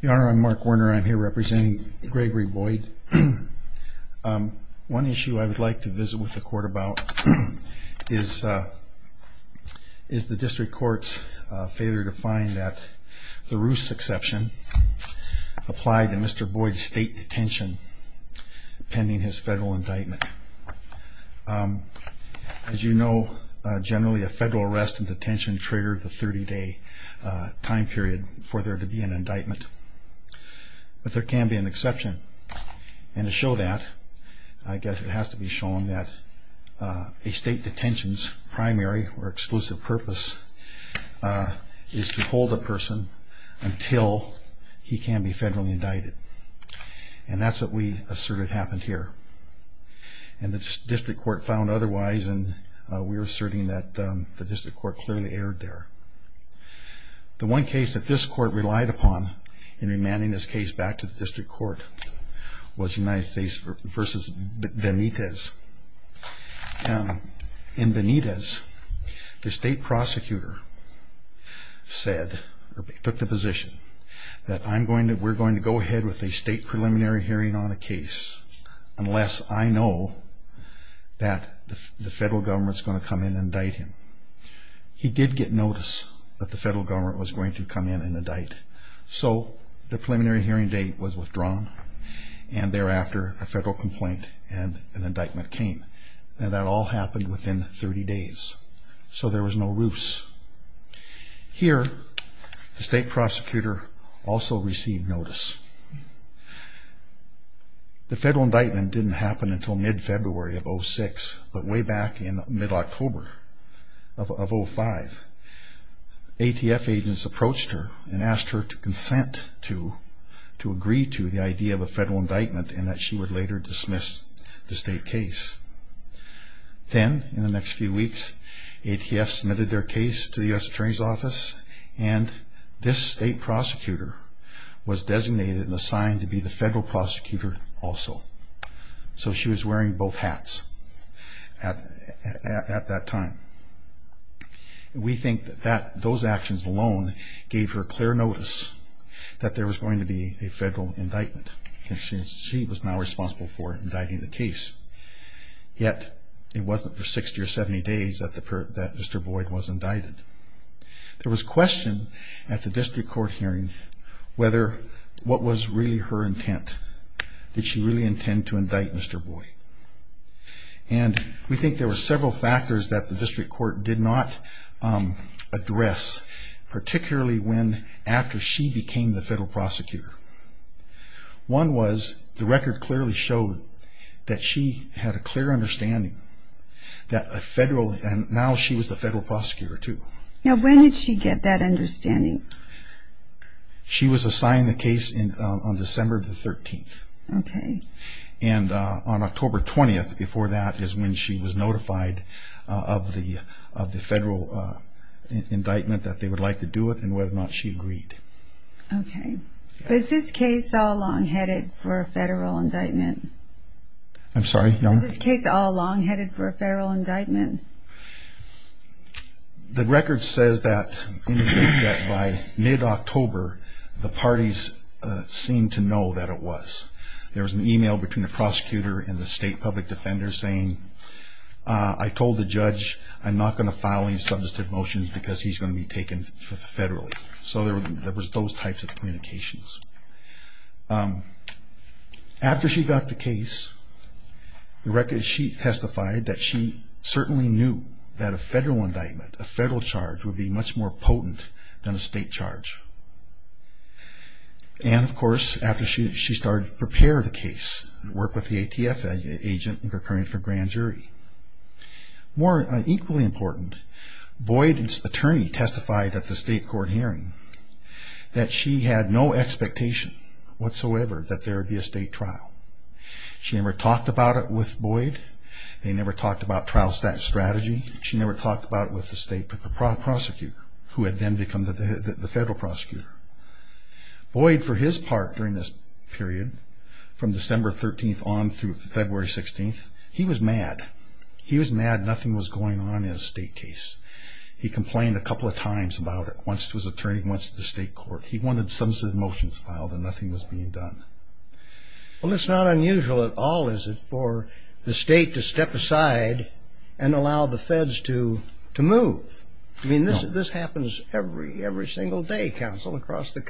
Your Honor, I'm Mark Werner. I'm here representing Gregory Boyd. One issue I would like to visit with the court about is the district court's failure to find that the Roos exception applied to Mr. Boyd's state detention pending his federal indictment. As you know, generally a federal arrest and detention trigger the 30-day time period for there to be an indictment. But there can be an exception. And to show that, I guess it has to be shown that a state detention's primary or exclusive purpose is to hold a person until he can be federally indicted. And that's what we asserted happened here. And the district court found otherwise, and we are asserting that the district court clearly erred there. The one case that this court relied upon in remanding this case back to the district court was United States v. Benitez. In Benitez, the state prosecutor said, or took the position, that I'm going to, we're going to go on a case unless I know that the federal government's going to come in and indict him. He did get notice that the federal government was going to come in and indict. So the preliminary hearing date was withdrawn, and thereafter a federal complaint and an indictment came. And that all happened within 30 days. So there was no ruse. Here, the state prosecutor also received notice. The federal indictment didn't happen until mid-February of 06, but way back in mid- October of 05, ATF agents approached her and asked her to consent to, to agree to the idea of a federal indictment, and that she would later dismiss the state case. Then, in the next few weeks, ATF submitted their case to the U.S. Attorney's Office, and this state prosecutor was designated and assigned to be the federal prosecutor also. So she was wearing both hats at that time. We think that those actions alone gave her clear notice that there was going to be a federal indictment, and she was now responsible for indicting the case. Yet, it wasn't for 60 or 70 days that Mr. Boyd was indicted. There was question at the district court hearing whether, what was really her intent? Did she really intend to indict Mr. Boyd? And we think there were several factors that the district court did not address, particularly when, after she became the federal prosecutor. One was, the record clearly showed that she had a clear understanding that a federal, and now she was the federal prosecutor too. Now, when did she get that understanding? She was assigned the case in, on December the 13th. Okay. And on October 20th, before that, is when she was notified of the, of the federal indictment, that they would like to do it, and whether or not she agreed. Okay. Was this case all long-headed for a federal indictment? I'm sorry? Was this case all long-headed for a federal indictment? The record says that, by mid October, the parties seemed to know that it was. There was an email between the prosecutor and the state public defender saying, I told the judge, I'm not going to file any substantive motions because he's going to be taken federally. So there was those types of communications. After she got the case, the record, she testified that she certainly knew that a federal indictment, a federal charge, would be much more potent than a state charge. And of course, after she, she started to prepare the case and work with the ATF agent in preparing for grand jury. More equally important, Boyd's attorney testified at the state court hearing that she had no expectation whatsoever that there would be a state trial. She never talked about it with Boyd. They never talked about trial strategy. She never talked about it with the state prosecutor, who had then become the federal prosecutor. Boyd, for his part, during this period, from he was mad nothing was going on in a state case. He complained a couple of times about it, once to his attorney, once to the state court. He wanted substantive motions filed and nothing was being done. Well, it's not unusual at all, is it, for the state to step aside and allow the feds to move. I mean, this happens every single day, counsel, across the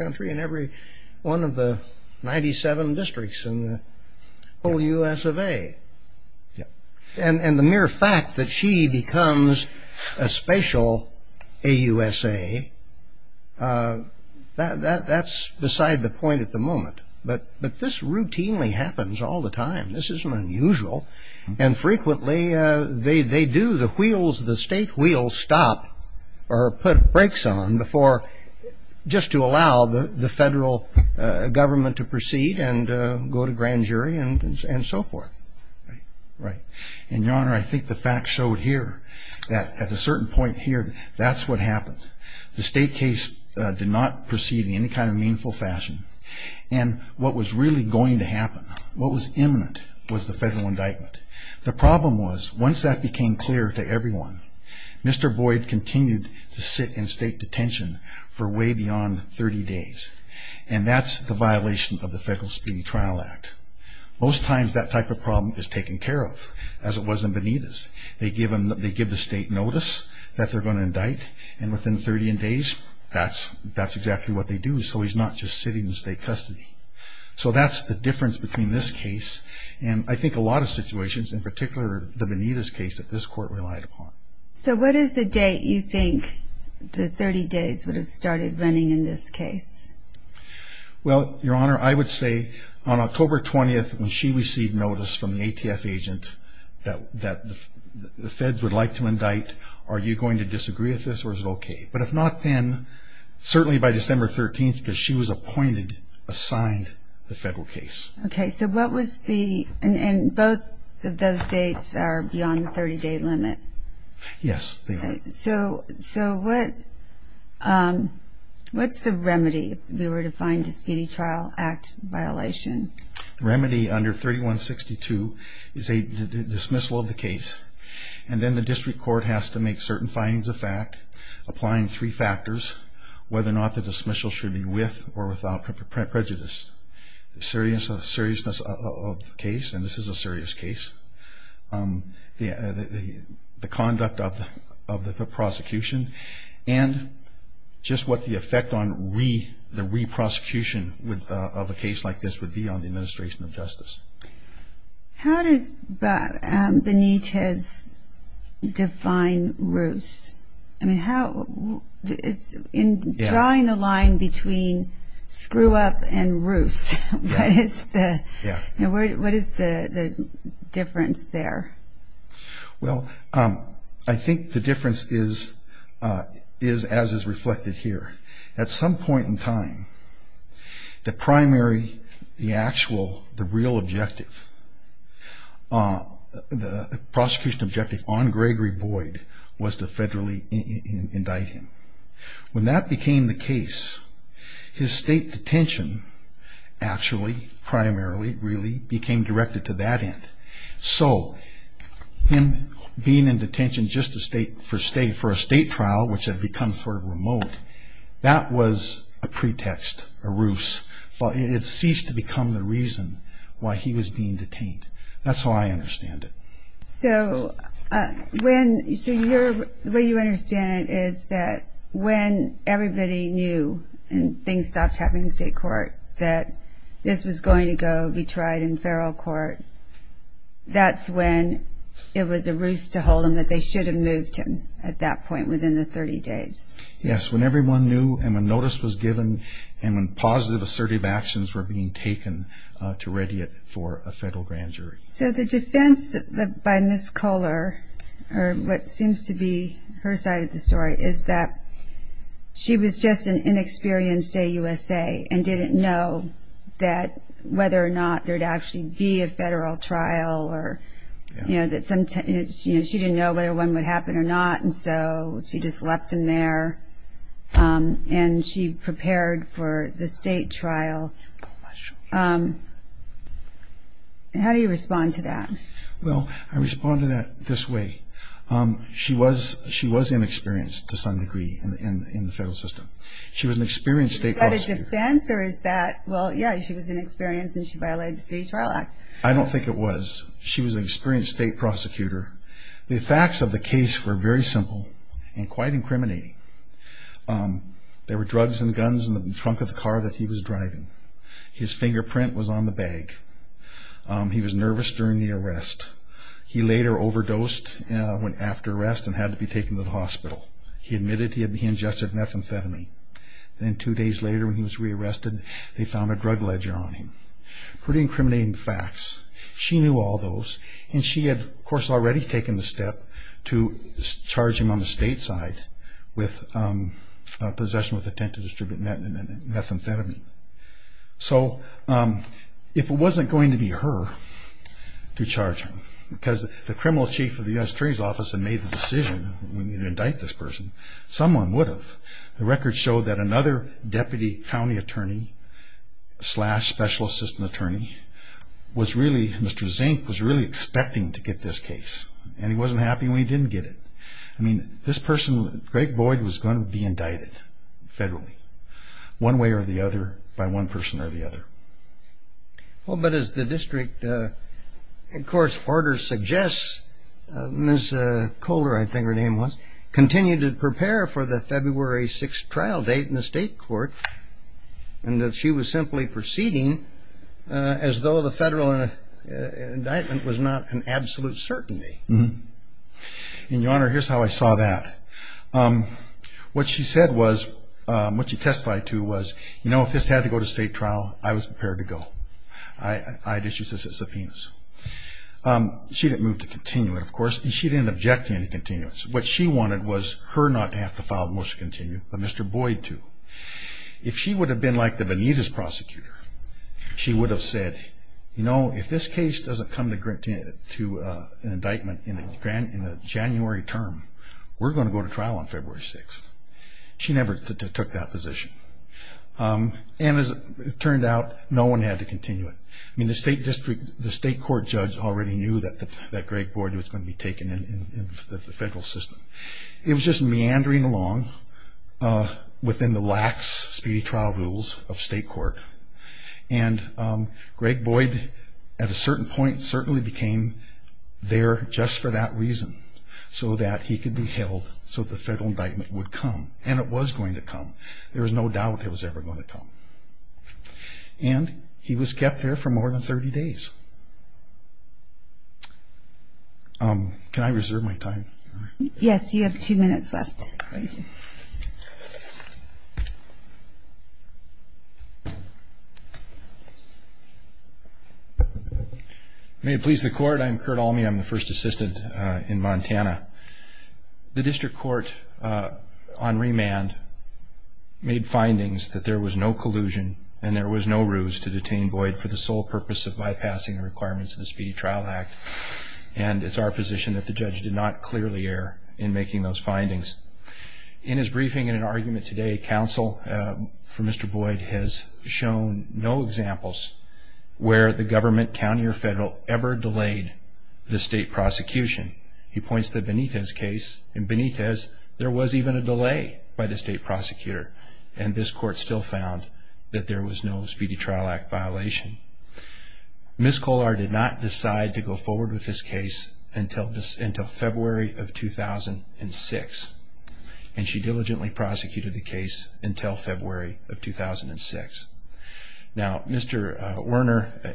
And the mere fact that she becomes a spatial AUSA, that's beside the point at the moment. But this routinely happens all the time. This isn't unusual. And frequently, they do, the wheels, the state wheels stop or put brakes on before, just to allow the federal government to proceed and go to grand court. Right. And your honor, I think the fact showed here that at a certain point here, that's what happened. The state case did not proceed in any kind of meaningful fashion. And what was really going to happen, what was imminent, was the federal indictment. The problem was, once that became clear to everyone, Mr. Boyd continued to sit in state detention for way beyond 30 days. And that's the violation of the Federal Speedy Trial Act. Most times that type of problem is taken care of, as it was in Bonita's. They give the state notice that they're going to indict, and within 30 days, that's exactly what they do. So he's not just sitting in state custody. So that's the difference between this case and I think a lot of situations, in particular the Bonita's case, that this court relied upon. So what is the date you think the 30 days would have started running in this case? Well, your honor, I would say on December 13th, she received notice from an ATF agent that the feds would like to indict. Are you going to disagree with this, or is it okay? But if not, then certainly by December 13th, because she was appointed, assigned the federal case. Okay, so what was the... and both of those dates are beyond the 30-day limit. Yes. So what's the remedy, if we were to find a Speedy Trial Act violation? The remedy under 3162 is a dismissal of the case, and then the district court has to make certain findings of fact, applying three factors, whether or not the dismissal should be with or without prejudice, the seriousness of the case, and this is a serious case, the conduct of the prosecution, and just what the effect on the re-prosecution of a case like this would be on the administration of justice. How does Benitez define Roos? I mean, how... in drawing the line between screw-up and Roos, what is the difference there? Well, I think the difference is as is the actual, the real objective, the prosecution objective on Gregory Boyd was to federally indict him. When that became the case, his state detention actually, primarily, really became directed to that end. So him being in detention just for a state trial, which had become sort of the reason why he was being detained. That's how I understand it. So, when... so your... the way you understand it is that when everybody knew, and things stopped happening in state court, that this was going to go, be tried in federal court, that's when it was a Roos to hold him, that they should have moved him at that point, within the 30 days. Yes, when everyone knew, and when notice was given, and when positive assertive actions were being taken to ready it for a federal grand jury. So the defense by Ms. Kohler, or what seems to be her side of the story, is that she was just an inexperienced AUSA, and didn't know that whether or not there'd actually be a federal trial, or you know, that sometimes, you know, she didn't know whether one would happen or not, and so she just left him there, and she prepared for the state trial. How do you respond to that? Well, I respond to that this way. She was... she was inexperienced to some degree in the federal system. She was an experienced state prosecutor. Is that a defense, or is that... well, yeah, she was inexperienced, and she violated the State Trial Act. I don't think it was. She was an experienced state prosecutor. The facts of the case were very simple, and quite incriminating. There were drugs and guns in the trunk of the car that he was driving. His fingerprint was on the bag. He was nervous during the arrest. He later overdosed after arrest, and had to be taken to the hospital. He admitted he had ingested methamphetamine. Then two days later, when he was re-arrested, they found a drug ledger on him. Pretty incriminating facts. She knew all those, and she had, of course, already taken the step to charge him on the state side with possession with intent to distribute methamphetamine. So, if it wasn't going to be her to charge him, because the criminal chief of the U.S. Attorney's Office had made the decision to indict this person, someone would have. The records showed that another deputy county attorney slash special assistant attorney was really... Mr. Zink was really expecting to get this case, and he wasn't happy when he didn't get it. I mean, this person, Greg Boyd, was going to be indicted, federally, one way or the other, by one person or the other. Well, but as the district, of course, orders suggest, Ms. Kohler, I think her name was, continued to prepare for the February 6th trial date in the state court, and that she was simply proceeding as though the federal indictment was not an absolute certainty. Mm-hmm. And, Your Honor, here's how I saw that. What she said was, what she testified to was, you know, if this had to go to state trial, I was prepared to go. I had issued this as a subpoena. She didn't move to continue it, of course, and she didn't object to any continuance. What she wanted was her not to have to file the motion to continue, but Mr. Boyd to. If she would have been like the Benitez prosecutor, she would have said, you know, if this case doesn't come to an indictment in the January term, we're going to go to trial on February 6th. She never took that position, and as it turned out, no one had to continue it. I mean, the state district, the state court judge already knew that Greg Boyd was going to be taken in the federal system. It was just meandering along within the lax, speedy trial rules of state court, and Greg Boyd, at a point, became there just for that reason, so that he could be held, so the federal indictment would come, and it was going to come. There was no doubt it was ever going to come, and he was kept there for more than 30 days. Can I reserve my time? Yes, you have two minutes left. Thank you. May it please the court, I'm Kurt Almey, I'm the first assistant in Montana. The district court on remand made findings that there was no collusion, and there was no ruse to detain Boyd for the sole purpose of bypassing the requirements of the Speedy Trial Act, and it's our position that the judge did not clearly err in making those findings. In his briefing, in an argument today, counsel for Mr. Boyd has shown no examples where the government, county, or federal ever delayed the state prosecution. He points to Benitez's case, and Benitez, there was even a delay by the state prosecutor, and this court still found that there was no Speedy Trial Act violation. Ms. Kollar did not decide to go forward with this case until February of 2006, and she diligently prosecuted the case until February of 2006. Now, Mr. Werner,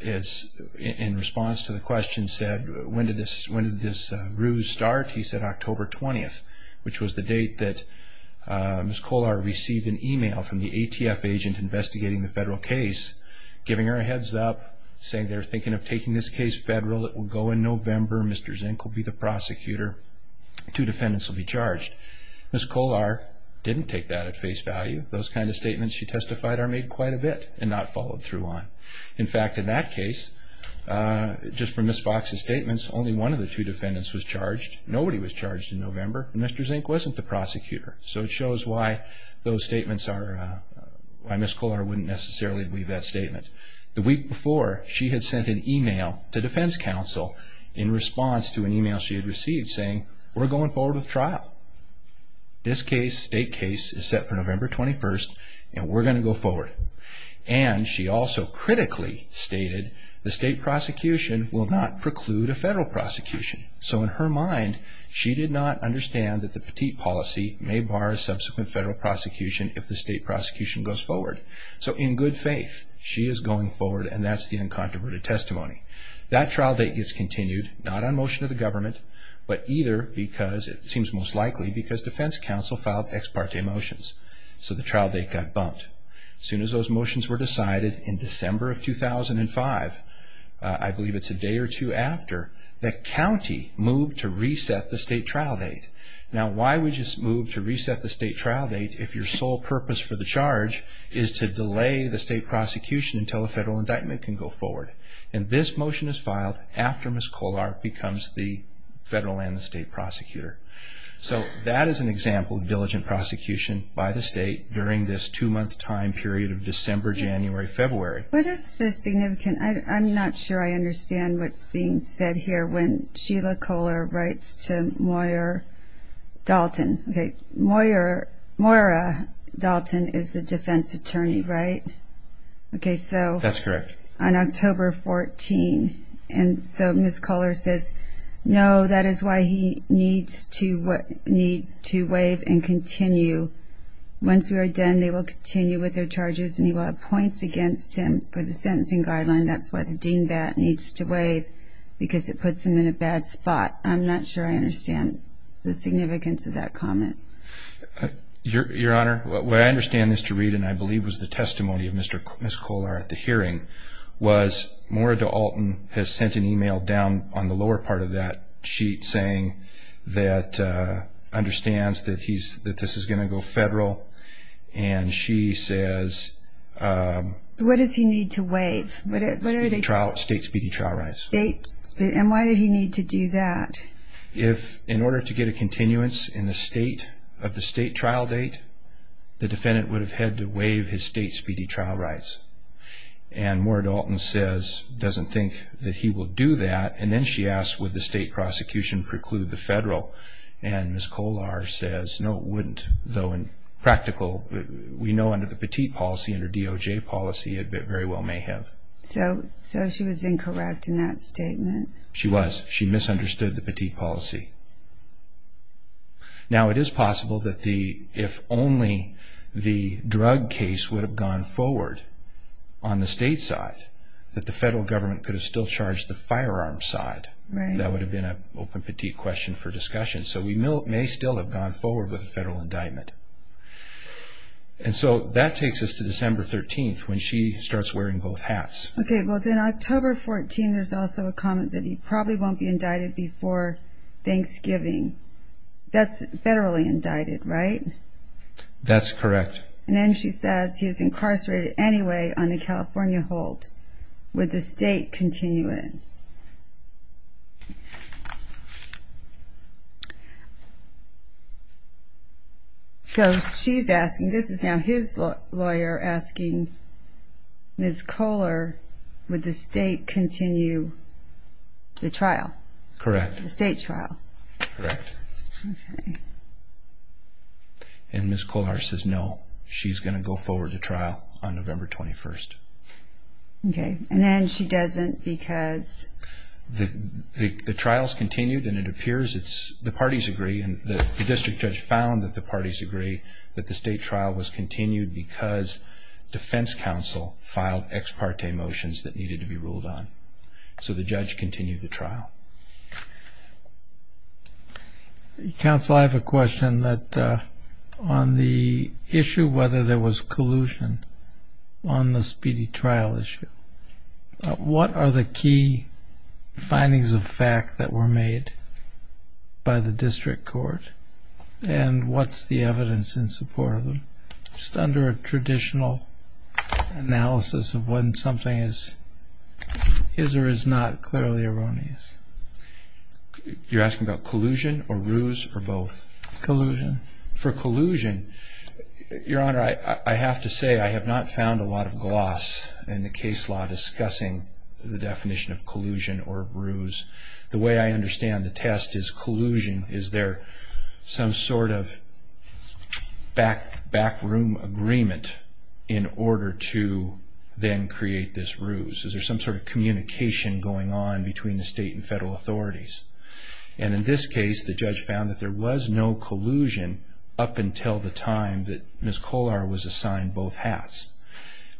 in response to the question, said, when did this ruse start? He said October 20th, which was the date that Ms. Kollar received an email from the ATF agent investigating the federal case, giving her a heads up, saying they're thinking of taking this case federal, it will go in November, Mr. Zink will be the prosecutor, two defendants will be charged. Ms. Kollar didn't take that at face value. Those kind of statements she testified are made quite a bit and not followed through on. In fact, in that case, just from Ms. Fox's statements, only one of the two defendants was charged, nobody was charged in November, and Mr. Zink wasn't the prosecutor. So it shows why those statements are, why Ms. Kollar wouldn't necessarily leave that statement. The week before, she had sent an email to in response to an email she had received, saying, we're going forward with trial. This case, state case, is set for November 21st, and we're going to go forward. And she also critically stated the state prosecution will not preclude a federal prosecution. So in her mind, she did not understand that the petite policy may bar a subsequent federal prosecution if the state prosecution goes forward. So in good faith, she is going forward, and that's the uncontroverted testimony. That trial date gets continued, not on motion of the government, but either because it seems most likely because defense counsel filed ex parte motions, so the trial date got bumped. As soon as those motions were decided in December of 2005, I believe it's a day or two after, the county moved to reset the state trial date. Now, why would you move to reset the state trial date if your sole purpose for the charge is to delay the state prosecution until a federal indictment can go forward? And this motion is filed after Ms. Kolar becomes the federal and the state prosecutor. So that is an example of diligent prosecution by the state during this two-month time period of December, January, February. What is the significance? I'm not sure I understand what's being said here when Sheila Kolar writes to Moira Dalton. Okay. Moira Dalton is the defense attorney, right? Okay, so... On October 14. And so Ms. Kolar says, no, that is why he needs to waive and continue. Once we are done, they will continue with their charges and he will have points against him for the sentencing guideline. That's why the DEANBAT needs to waive because it puts him in a bad spot. I'm not sure I understand the significance of that comment. Your Honor, what I understand is to read, and I believe was the testimony of Ms. Kolar at the hearing, was Moira Dalton has sent an email down on the lower part of that sheet saying that understands that this is going to go federal and she says... What does he need to waive? State speedy trial rights. And why did he need to do that? If in order to get a continuance in the state of the state trial date, the defendant would have had to waive his state speedy trial rights. And Moira Dalton says, doesn't think that he will do that. And then she asks, would the state prosecution preclude the federal? And Ms. Kolar says, no, it wouldn't. Though in practical, we know under the Petit policy, under DOJ policy, it very well may have. So she was incorrect in that statement? She was. She misunderstood the Petit policy. Now it is possible that the, if he had gone forward on the state side, that the federal government could have still charged the firearm side. Right. That would have been an open Petit question for discussion. So we may still have gone forward with a federal indictment. And so that takes us to December 13th, when she starts wearing both hats. Okay. Well, then October 14, there's also a comment that he probably won't be indicted before Thanksgiving. That's federally indicted, right? That's correct. And then she says, he's incarcerated anyway on the California hold. Would the state continue it? So she's asking, this is now his lawyer asking Ms. Kolar, would the state continue the trial? Correct. The state trial. And Ms. Kolar says, no, she's going to go forward to trial on November 21st. Okay. And then she doesn't because? The trial's continued and it appears it's, the parties agree and the district judge found that the parties agree that the state trial was continued because defense counsel filed ex parte motions that needed to be ruled on. So the judge continued the trial. Counsel, I have a question on the issue, whether there was collusion on the speedy trial issue. What are the key findings of fact that were made by the district court? And what's the evidence in support of them? Just under a traditional analysis of when something is, is or is not clearly erroneous. You're asking about collusion. Your honor, I have to say, I have not found a lot of gloss in the case law discussing the definition of collusion or ruse. The way I understand the test is collusion. Is there some sort of back, back room agreement in order to then create this ruse? Is there some sort of communication going on between the state and federal authorities? And in this case, the judge found that there was no collusion up until the time that Ms. Kollar was assigned both hats.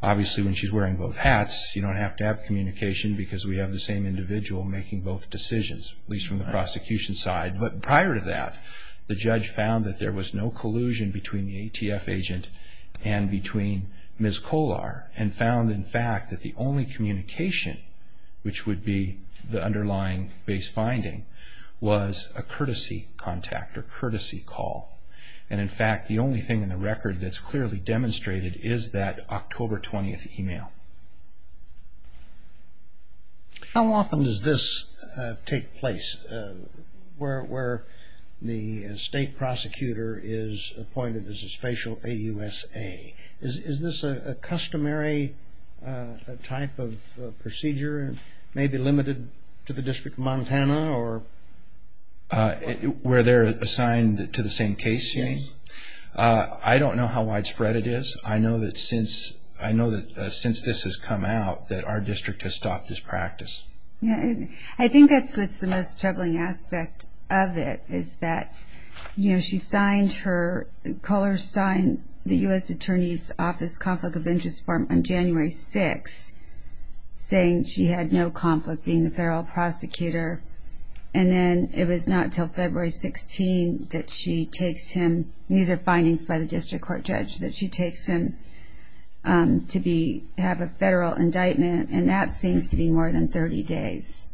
Obviously, when she's wearing both hats, you don't have to have communication because we have the same individual making both decisions, at least from the prosecution side. But prior to that, the judge found that there was no collusion between the ATF agent and between Ms. Kollar and found, in fact, that the only communication, which would be the underlying base finding, was a courtesy contact or courtesy call. And in fact, the only thing in the record that's clearly demonstrated is that October 20th email. How often does this take place, where the state prosecutor is appointed as a spatial AUSA? Is this a customary type of procedure, maybe limited to the hour where they're assigned to the same case? I don't know how widespread it is. I know that since this has come out, that our district has stopped this practice. I think that's what's the most troubling aspect of it, is that, you know, she signed her, Kollar signed the U.S. Attorney's Office Conflict of Interest form on January 6th, saying she had no conflict being the federal prosecutor. And then it was not until February 16th that she takes him, these are findings by the district court judge, that she takes him to have a federal indictment. And that seems to be more than 30 days.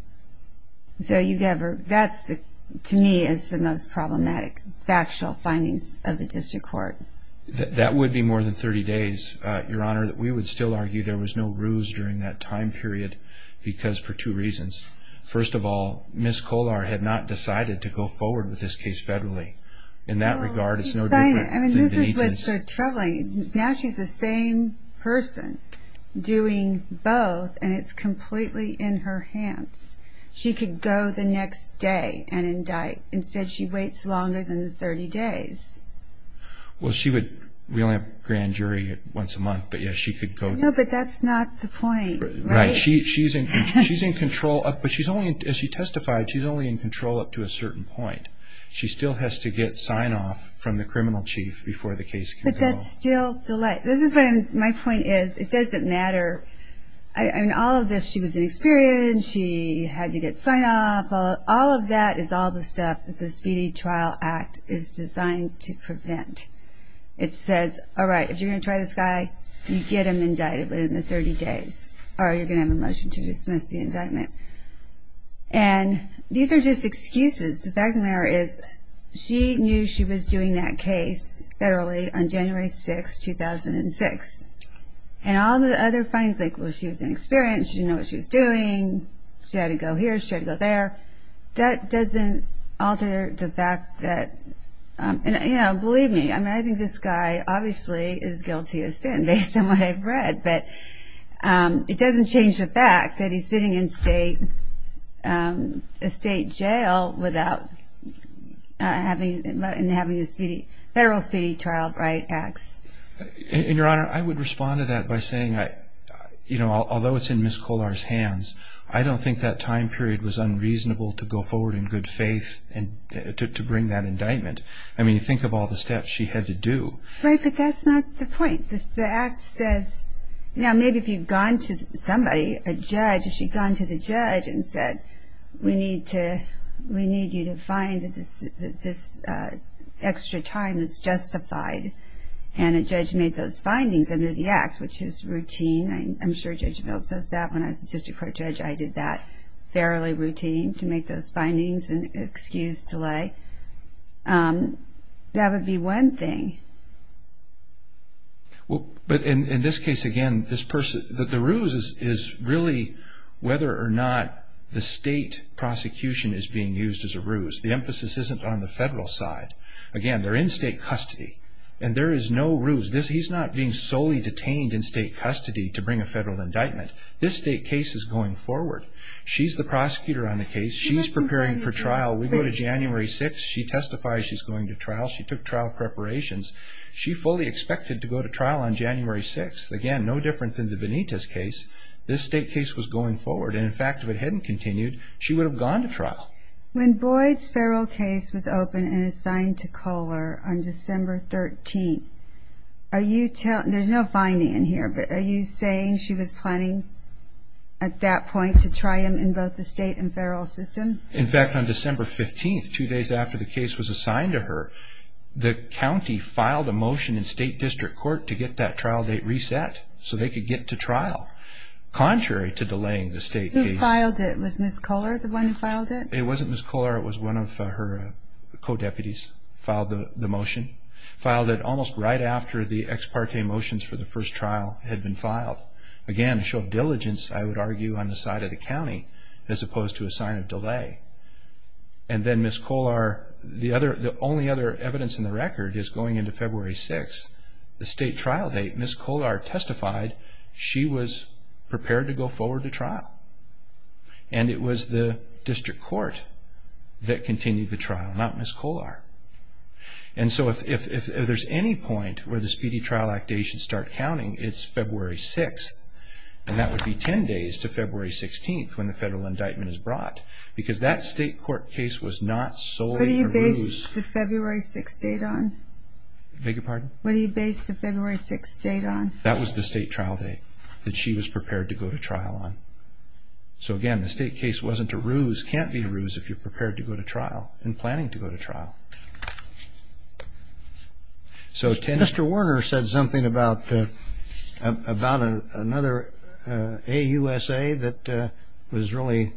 So you never, that's the, to me, is the most problematic factual findings of the district court. That would be more than 30 days, Your Honor, that we would still argue there was no ruse during that time period, because for two reasons. First of all, Ms. Kollar had not decided to go forward with this case federally. In that regard, it's no different. I mean, this is what's so troubling. Now she's the same person doing both, and it's completely in her hands. She could go the next day and indict. Instead, she waits longer than 30 days. Well, she would, we only have grand jury once a month, but yeah, she could go. No, but that's not the point. Right. She's in control, but she's only, as she testified, she's only in control up to a certain point. She still has to get sign-off from the criminal chief before the case can go. But that's still, this is what my point is, it doesn't matter. I mean, all of this, she was inexperienced, she had to get sign-off, all of that is all the stuff that the Speedy Trial Act is designed to prevent. It says, all right, if you're going to try this guy, you get him indicted within the 30 days, or you're going to have a motion to dismiss the indictment. And these are just excuses. The fact of the matter is, she knew she was doing that case federally on January 6, 2006. And all the other findings, like, well, she was inexperienced, she didn't know what she was doing, she had to go here, she had to go there, that doesn't alter the guiltiest sin, based on what I've read. But it doesn't change the fact that he's sitting in state jail without having the Federal Speedy Trial Act. And, Your Honor, I would respond to that by saying, you know, although it's in Ms. Kolar's hands, I don't think that time period was unreasonable to go forward in good faith to bring that indictment. I mean, think of all the steps she had to do. Right, but that's not the point. The Act says, you know, maybe if you've gone to somebody, a judge, if she'd gone to the judge and said, we need you to find that this extra time is justified, and a judge made those findings under the Act, which is routine. I'm sure Judge Mills knows that. When I was a district court judge, I did that fairly routine, to make those findings and excuse delay. That would be one thing. Well, but in this case, again, the ruse is really whether or not the state prosecution is being used as a ruse. The emphasis isn't on the Federal side. Again, they're in state custody, and there is no ruse. He's not being solely detained in state custody to bring a Federal indictment. This state case is going forward. She's the prosecutor on the case. She's preparing for trial. We go to January 6th. She testifies she's going to trial. She took trial preparations. She fully expected to go to trial on January 6th. Again, no different than the Benitez case. This state case was going forward, and in fact, if it hadn't continued, she would have gone to trial. When Boyd's Federal case was open and assigned to Kohler on December 13th, are you telling, there's no finding in here, but are you saying she was planning at that point to try him in the state and Federal system? In fact, on December 15th, two days after the case was assigned to her, the county filed a motion in state district court to get that trial date reset so they could get to trial, contrary to delaying the state case. Who filed it? Was Ms. Kohler the one who filed it? It wasn't Ms. Kohler. It was one of her co-deputies filed the motion. Filed it almost right after the ex parte motions for the first trial had been filed. Again, a show of diligence, I would argue, on the side of the county, as opposed to a sign of delay. And then Ms. Kohler, the only other evidence in the record is going into February 6th, the state trial date. Ms. Kohler testified she was prepared to go forward to trial. And it was the district court that continued the trial, not Ms. Kohler. And so if there's any point where the Speedy Trial Act date should start counting, it's February 6th. And that would be 10 days to February 16th when the federal indictment is brought. Because that state court case was not solely to ruse. What do you base the February 6th date on? Beg your pardon? What do you base the February 6th date on? That was the state trial date that she was prepared to go to trial on. So again, the state case wasn't to ruse, can't be to ruse if you're prepared to go to trial and about another AUSA that was really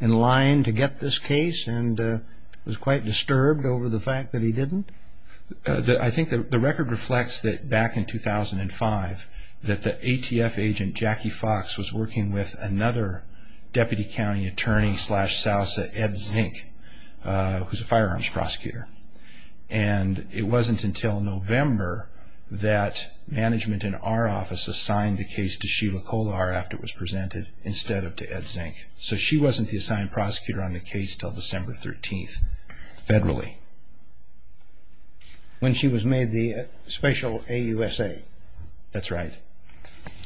in line to get this case and was quite disturbed over the fact that he didn't? I think that the record reflects that back in 2005, that the ATF agent Jackie Fox was working with another deputy county attorney slash Sousa, Ed Zink, who's a firearms prosecutor. And it wasn't until November that management in our office assigned the case to Sheila Kohler after it was presented, instead of to Ed Zink. So she wasn't the assigned prosecutor on the case till December 13th, federally. When she was made the special AUSA? That's right.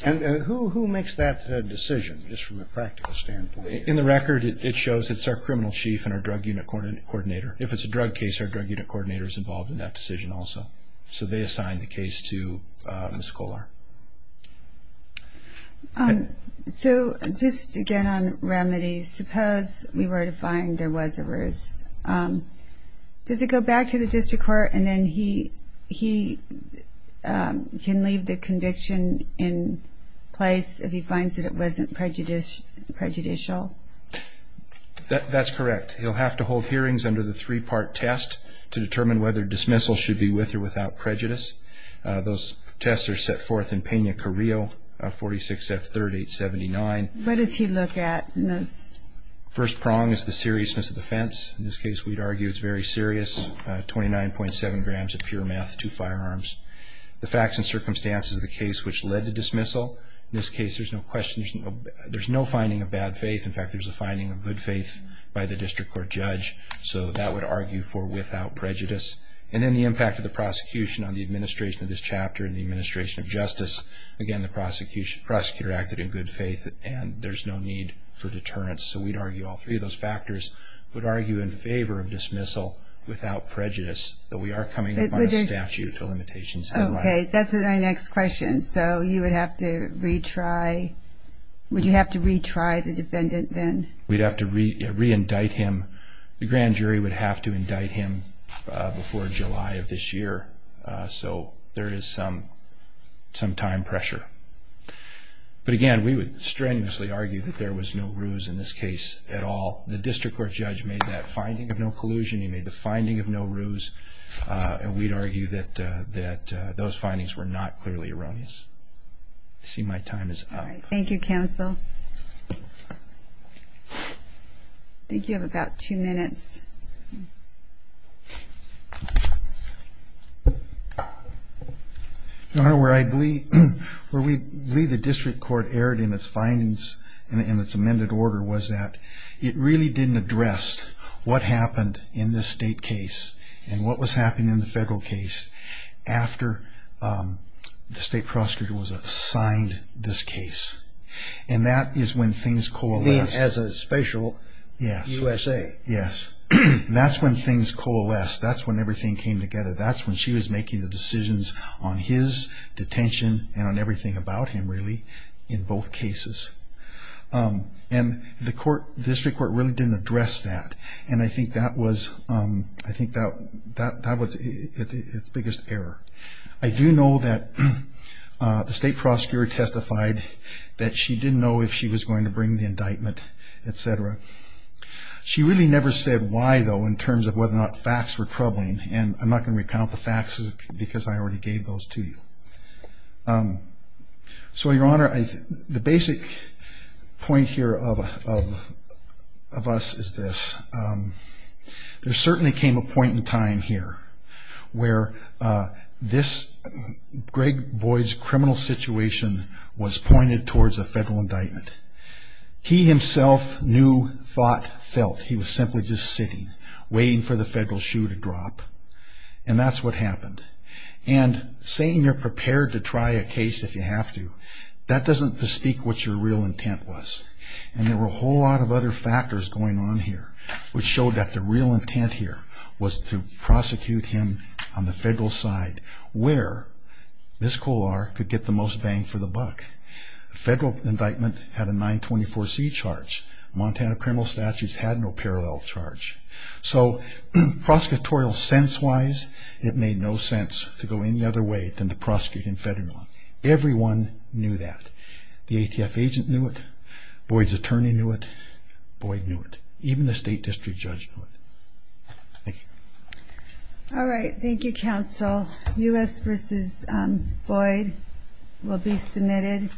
And who makes that decision, just from a practical standpoint? In the record, it shows it's our criminal chief and our drug unit coordinator. If it's a drug case, our drug unit coordinator is also. So they assigned the case to Ms. Kohler. So just to get on remedies, suppose we were to find there was a ruse. Does it go back to the district court and then he can leave the conviction in place if he finds that it wasn't prejudicial? That's correct. He'll have to hold hearings under the three-part test to determine whether dismissal should be with or without prejudice. Those tests are set forth in Pena-Carrillo 46F3879. What does he look at in those? First prong is the seriousness of the offense. In this case, we'd argue it's very serious. 29.7 grams of pure meth, two firearms. The facts and circumstances of the case which led to dismissal. In this case, there's no finding of bad faith. In fact, there's a finding of good faith by the district court judge. So that would argue for without prejudice. And then the impact of the prosecution on the administration of this chapter and the administration of justice. Again, the prosecutor acted in good faith and there's no need for deterrence. So we'd argue all three of those factors would argue in favor of dismissal without prejudice. But we are coming up on a statute of limitations. Okay, that's my next question. So you would have to retry. Would you have to re-indict him? The grand jury would have to indict him before July of this year. So there is some time pressure. But again, we would strenuously argue that there was no ruse in this case at all. The district court judge made that finding of no collusion. He made the finding of no ruse. And we'd argue that those findings were not clearly erroneous. I see my time is up. Thank you, counsel. I think you have about two minutes. Your Honor, where I believe, where we believe the district court erred in its findings and in its amended order was that it really didn't address what happened in this state case and what was happening in the federal case after the And that is when things coalesced. You mean as a special U.S.A.? Yes. That's when things coalesced. That's when everything came together. That's when she was making the decisions on his detention and on everything about him, really, in both cases. And the court, the district court really didn't address that. And I think that was, I think that was its biggest error. I do know that the state prosecutor testified that she didn't know if she was going to bring the indictment, etc. She really never said why, though, in terms of whether or not facts were troubling. And I'm not going to recount the facts because I already gave those to you. So, Your Honor, the basic point here of us is this. There pointed towards a federal indictment. He himself knew, thought, felt he was simply just sitting, waiting for the federal shoe to drop. And that's what happened. And saying you're prepared to try a case if you have to, that doesn't bespeak what your real intent was. And there were a whole lot of other factors going on here which showed that the real intent here was to prosecute him on the first bang for the buck. The federal indictment had a 924C charge. Montana criminal statutes had no parallel charge. So, prosecutorial sense-wise, it made no sense to go any other way than to prosecute him federally. Everyone knew that. The ATF agent knew it. Boyd's attorney knew it. Boyd knew it. Even the state district judge knew it. Thank you. All right. Thank you, counsel. U.S. v. Boyd will be submitted.